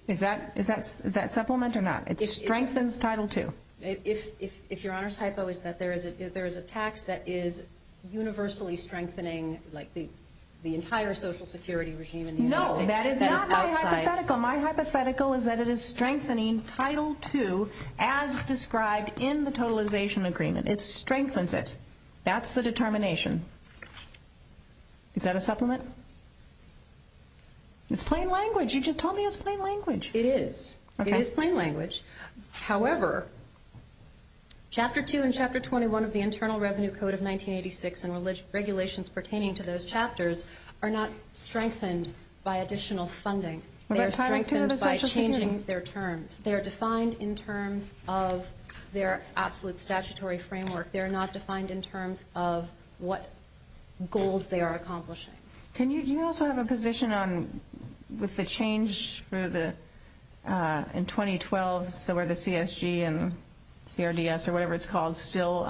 Is that supplement or not? It strengthens Title II. If your Honor's hypo is that there is a tax that is universally strengthening the entire Social Security regime in the United States. No, that is not my hypothetical. My hypothetical is that it is strengthening Title II as described in the totalization agreement. It strengthens it. That's the determination. Is that a supplement? It's plain language. You just told me it's plain language. It is. It is plain language. However, Chapter 2 and Chapter 21 of the Internal Revenue Code of 1986 and regulations pertaining to those chapters are not strengthened by additional funding. They are strengthened by changing their terms. They are defined in terms of their absolute statutory framework. They are not defined in terms of what goals they are accomplishing. Do you also have a position on with the change in 2012 where the CSG and CRDS or whatever it's called still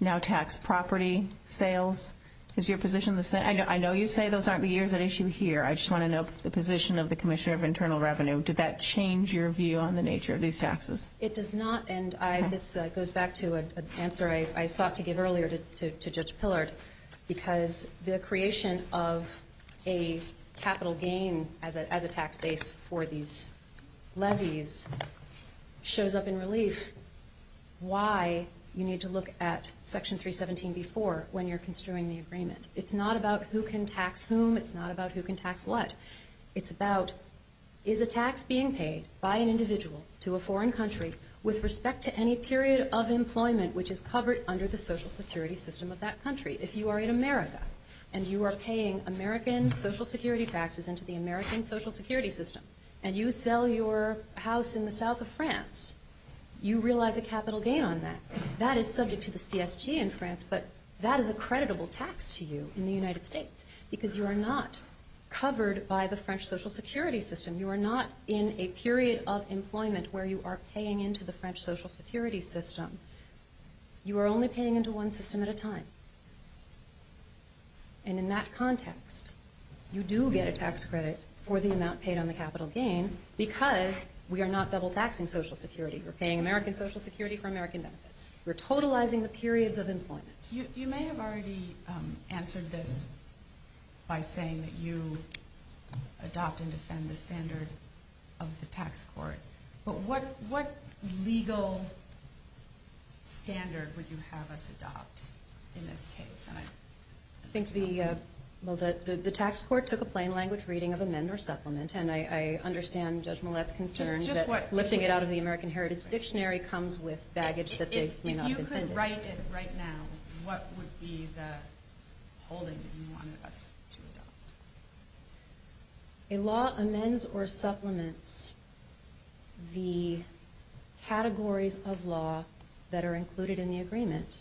now tax property sales? Is your position the same? I know you say those aren't the years at issue here. I just want to know the position of the Commissioner of Internal Revenue. Did that change your view on the nature of these taxes? It does not. This goes back to an answer I sought to give earlier to Judge Pillard because the creation of a capital gain as a tax base for these levies shows up in relief. Why you need to look at Section 317 before when you're construing the agreement. It's not about who can tax whom. It's not about who can tax what. It's about is a tax being paid by an individual to a foreign country with respect to any period of employment which is covered under the social security system of that country. If you are in America and you are paying American social security taxes into the American social security system and you sell your house in the south of France, you realize a capital gain on that. That is subject to the CSG in France, but that is a creditable tax to you in the United States because you are not covered by the French social security system. You are not in a period of employment where you are paying into the French social security system. You are only paying into one system at a time. And in that context, you do get a tax credit for the amount paid on the capital gain because we are not double taxing social security. We are paying American social security for American benefits. We are totalizing the periods of employment. You may have already answered this by saying that you adopt and defend the standard of the tax court, but what legal standard would you have us adopt in this case? The tax court took a plain language reading of amend or supplement and I understand Judge Millett's concern that lifting it out of the American Heritage Dictionary comes with baggage that they may not have intended. If you could write it right now, what would be the holding that you wanted us to adopt? A law amends or supplements the categories of law that are included in the agreement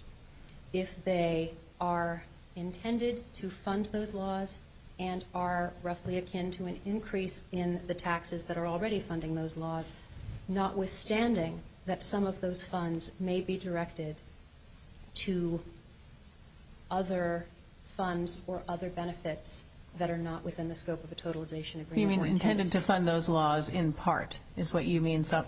if they are intended to fund those laws and are roughly akin to an increase in the taxes that are already funding those laws, notwithstanding that some of those funds may be directed to other funds or other benefits that are not within the scope of a totalization agreement. Do you mean intended to fund those laws in part is what you mean? At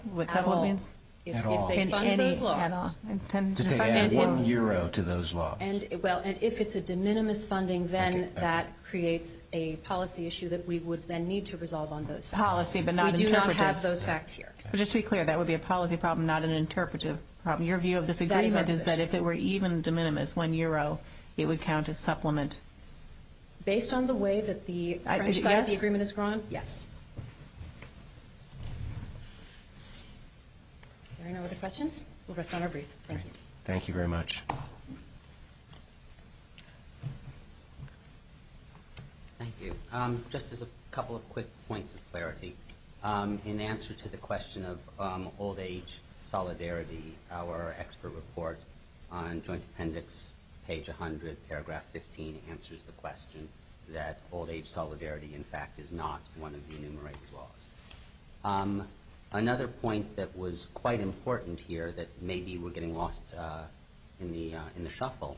all. If they fund those laws. To add one euro to those laws. If it's a de minimis funding then that creates a policy issue that we would then need to resolve on those facts. We do not have those facts here. Just to be clear, that would be a policy problem, not an interpretive problem. Your view of this agreement is that if it were even de minimis, one euro, it would count as supplement. Based on the way that the French side of the agreement has grown? Yes. We'll rest on our brief. Thank you very much. Thank you. Just a couple of quick points of clarity. In answer to the question of old age solidarity, our expert report on Joint Appendix, page 100, paragraph 15 answers the question that old age solidarity in fact is not one of the enumerated laws. Another point that was quite important here that maybe we're getting lost in the shuffle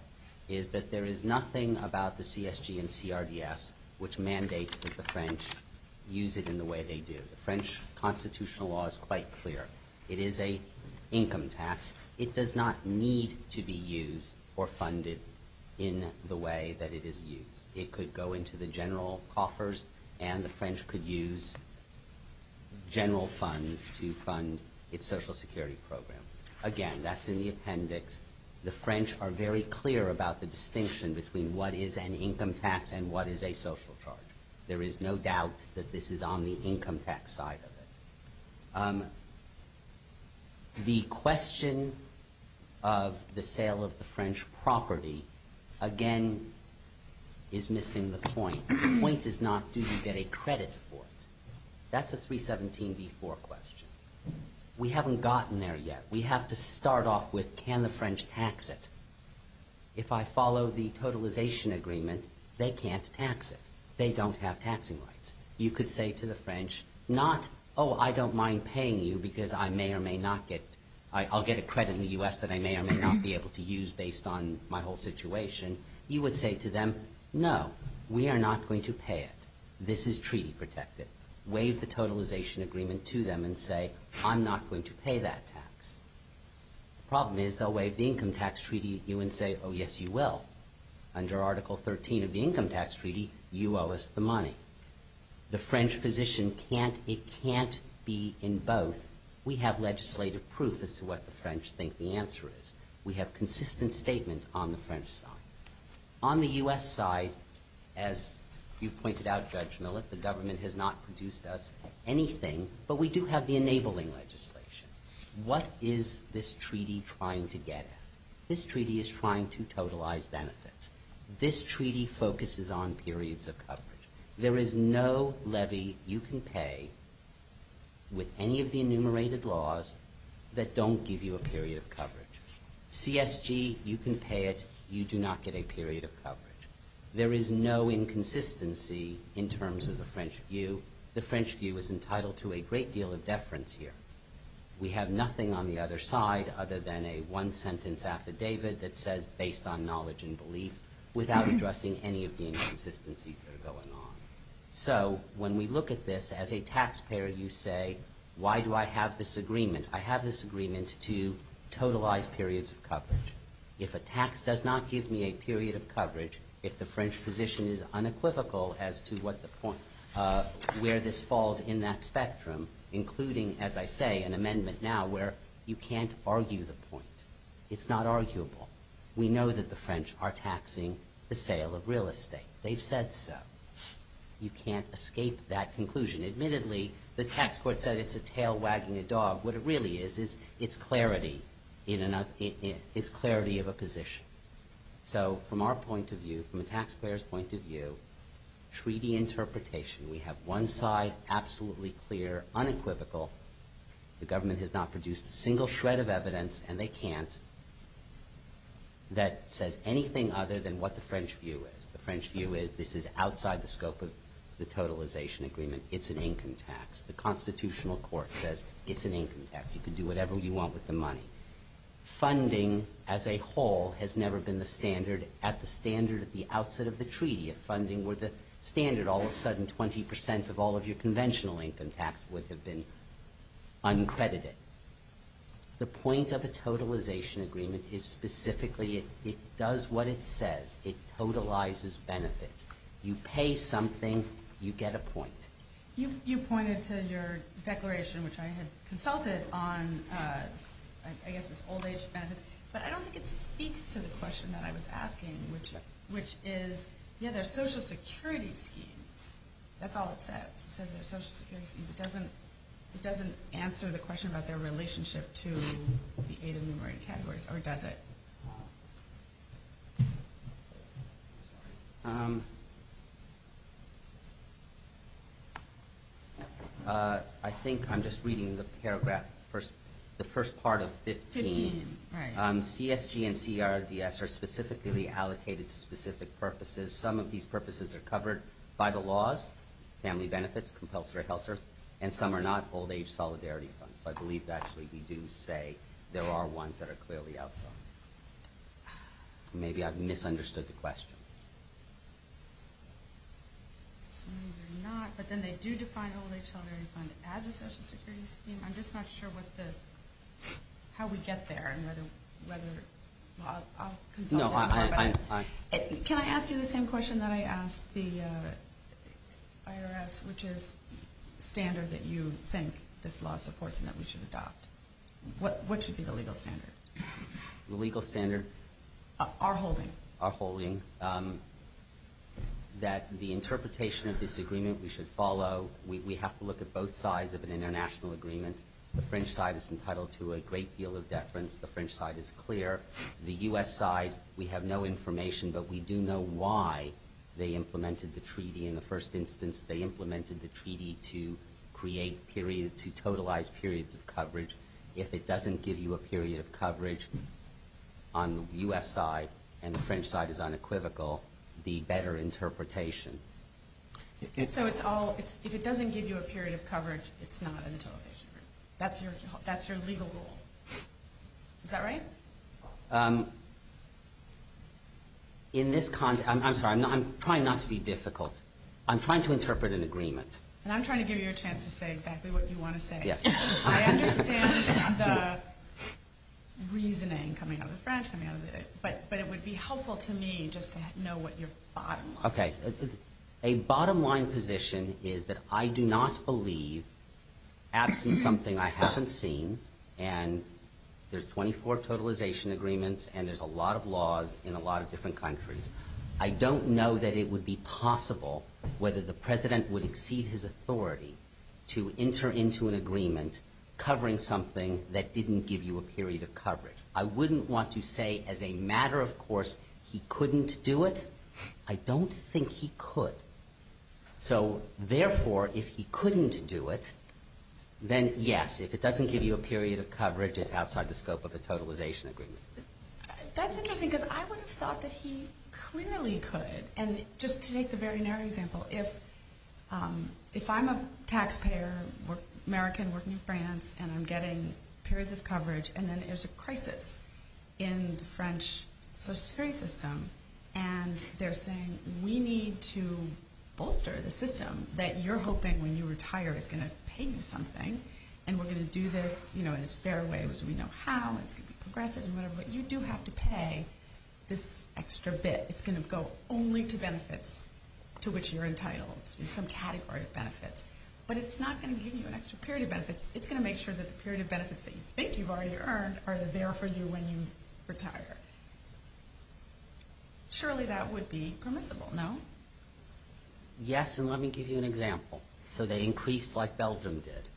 is that there is nothing about the CSG and CRDS which mandates that the French use it in the way they do. The French constitutional law is quite clear. It is a income tax. It does not need to be used or funded in the way that it is used. It could go into the general coffers and the French could use general funds to fund its social security program. Again, that's in the appendix. The French are very clear about the distinction between what is an income tax and what is a social charge. There is no doubt that this is on the income tax side of it. The question of the sale of the French property again is missing the point. The point is not do you get a credit for it. That's a 317b4 question. We haven't gotten there yet. We have to start off with can the French tax it? If I follow the totalization agreement they can't tax it. They don't have taxing rights. You could say to the French I don't mind paying you because I'll get a credit in the U.S. that I may or may not be able to use based on my whole situation. You would say to them no, we are not going to pay it. This is treaty protected. Waive the totalization agreement to them and say I'm not going to pay that tax. The problem is they'll waive the income tax treaty to you and say oh yes you will. Under article 13 of the income tax treaty you owe us the money. The French position can't be in both. We have legislative proof as to what the French think the answer is. We have consistent statement on the French side. On the U.S. side as you pointed out Judge Millett, the government has not produced us anything, but we do have the enabling legislation. What is this treaty trying to get at? This treaty is trying to totalize benefits. This treaty focuses on periods of coverage. There is no levy you can pay with any of the enumerated laws that don't give you a period of coverage. CSG, you can pay it. You do not get a period of coverage. There is no inconsistency in terms of the French view. The French view is entitled to a great deal of deference here. We have nothing on the other side other than a one sentence affidavit that says based on knowledge and belief without addressing any of the inconsistencies that are going on. When we look at this as a taxpayer you say why do I have this agreement? I have this agreement to totalize periods of coverage. If a tax does not give me a period of coverage, if the French position is unequivocal as to where this falls in that spectrum, including as I say, an amendment now where you can't argue the point. It's not arguable. We know that the French are taxing the sale of real estate. They've said so. You can't escape that conclusion. Admittedly, the tax court said it's a tail wagging a dog. What it really is, is it's clarity of a position. From our point of view, from a taxpayer's point of view, treaty interpretation, we have one side absolutely clear, unequivocal. The government has not produced a single shred of evidence, and they can't, that says anything other than what the French view is. The French view is this is outside the scope of the totalization agreement. It's an income tax. The constitutional court says it's an income tax. You can do whatever you want with the money. Funding, as a whole, has never been the standard. At the standard at the outset of the treaty, if funding were the standard, all of a sudden, 20% of all of your conventional income tax would have been uncredited. The point of a totalization agreement is specifically it does what it says. It totalizes benefits. You pay something, you get a point. You pointed to your declaration, which I had consulted on, I guess it was old age benefits, but I don't think it speaks to the question that I was asking, which is, yeah, there's social security schemes. That's all it says. It says there's social security schemes. It doesn't answer the question about their relationship to the aid of numerate categories, or does it? I think I'm just reading the paragraph, the first part of 15. CSG and CRDS are specifically allocated to specific purposes. Some of these purposes are covered by the laws, family benefits, compulsory health services, and some are not old age solidarity funds. I believe, actually, we do say there are ones that are clearly outsourced. Maybe I've misunderstood the question. Some of these are not, but then they do define old age solidarity funds as a social security scheme. I'm just not sure how we get there and whether I'll consult on that. Can I ask you the same question that I asked the IRS, which is standard that you think this law supports and that we should adopt? What should be the legal standard? Our holding that the interpretation of this agreement we should follow. We have to look at both sides of an international agreement. The French side is entitled to a great deal of deference. The French side is clear. The U.S. side, we have no information, but we do know why they implemented the treaty. In the first instance, they implemented the treaty to totalize periods of coverage. If it doesn't give you a period of coverage on the U.S. side and the French side is unequivocal, the better interpretation. If it doesn't give you a period of coverage, it's not in the totalization agreement. That's your legal rule. Is that right? I'm trying not to be difficult. I'm trying to interpret an agreement. I'm trying to give you a chance to say exactly what you want to say. I understand the reasoning coming out of the French, but it would be helpful to me just to know what your bottom line is. A bottom line position is that I do not believe absolutely something I haven't seen. There's 24 totalization agreements and there's a lot of laws in a lot of different countries. I don't know that it would be possible whether the president would exceed his authority to enter into an agreement covering something that didn't give you a period of coverage. I wouldn't want to say as a matter of course he couldn't do it. I don't think he could. Therefore, if he couldn't do it, then yes, if it doesn't give you a period of coverage it's outside the scope of the totalization agreement. That's interesting because I would have thought that he clearly could. Just to take the very narrow example, if I'm a taxpayer American working in France and I'm getting periods of coverage and then there's a crisis in the French social security system and they're saying we need to bolster the system that you're hoping when you retire is going to pay you something and we're going to do this in as fair a way as we know how. It's going to be progressive and whatever, but you do have to pay this extra bit. It's going to go only to benefits to which you're entitled in some category of benefits. But it's not going to give you an extra period of benefits. It's going to make sure that the period of benefits that you think you've already earned are there for you when you retire. Surely that would be permissible, no? Yes, and let me give you an example. So they increased like Belgium did.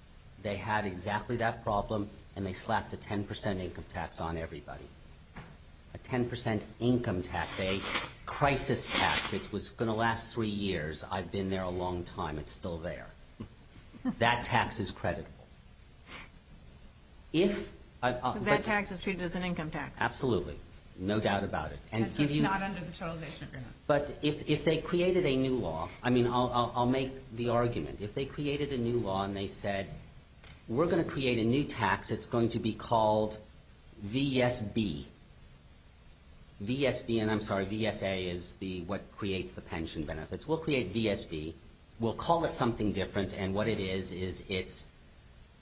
They had exactly that problem and they slapped a 10% income tax on everybody. A 10% income tax. A crisis tax. It was going to last three years. I've been there a long time. It's still there. That tax is creditable. If... So that tax is treated as an income tax? Absolutely. No doubt about it. But if they created a new law, I mean I'll make the argument. If they created a new law and they said we're going to create a new tax. It's going to be called V.S.B. V.S.B. and I'm sorry, V.S.A. is what creates the pension benefits. We'll create V.S.B. We'll call it something different and what it is is it's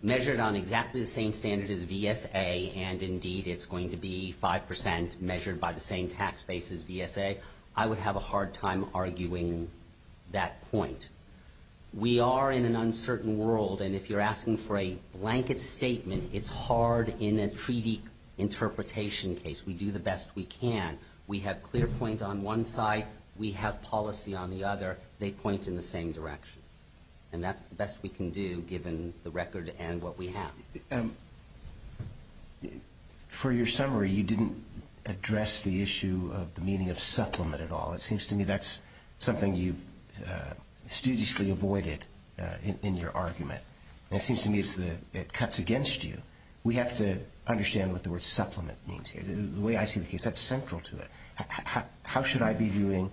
measured on exactly the same standard as V.S.A. and indeed it's going to be 5% measured by the same tax base as V.S.A. I would have a hard time arguing that point. We are in an uncertain world and if you're asking for a in a treaty interpretation case, we do the best we can. We have clear point on one side. We have policy on the other. They point in the same direction and that's the best we can do given the record and what we have. For your summary, you didn't address the issue of the meaning of supplement at all. It seems to me that's something you've studiously avoided in your argument. It seems to me it cuts against you. We have to understand what the word supplement means here. The way I see the case, that's central to it. How should I be viewing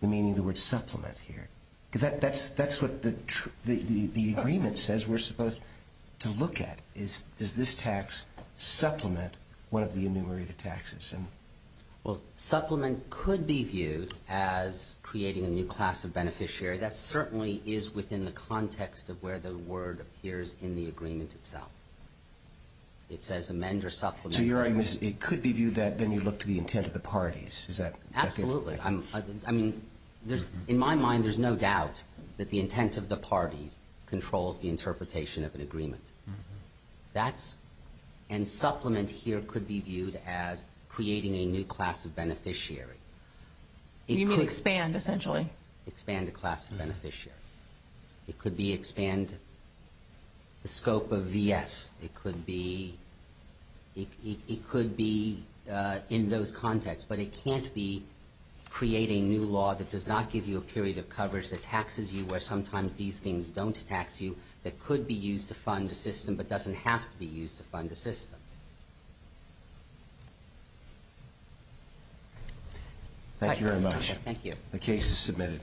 the meaning of the word supplement here? That's what the agreement says we're supposed to look at. Does this tax supplement one of the enumerated taxes? Supplement could be viewed as creating a new class of beneficiary. That certainly is within the context of where the word appears in the agreement itself. It says amend or supplement. It could be viewed that when you look to the intent of the parties. Absolutely. In my mind, there's no doubt that the intent of the parties controls the interpretation of an agreement. Supplement here could be viewed as creating a new class of beneficiary. You mean expand essentially? Expand the class of beneficiary. Expand the scope of V.S. It could be in those contexts, but it can't be creating new law that does not give you a period of coverage that taxes you where sometimes these things don't tax you that could be used to fund a system but doesn't have to be used to fund a system. Thank you very much. The case is submitted.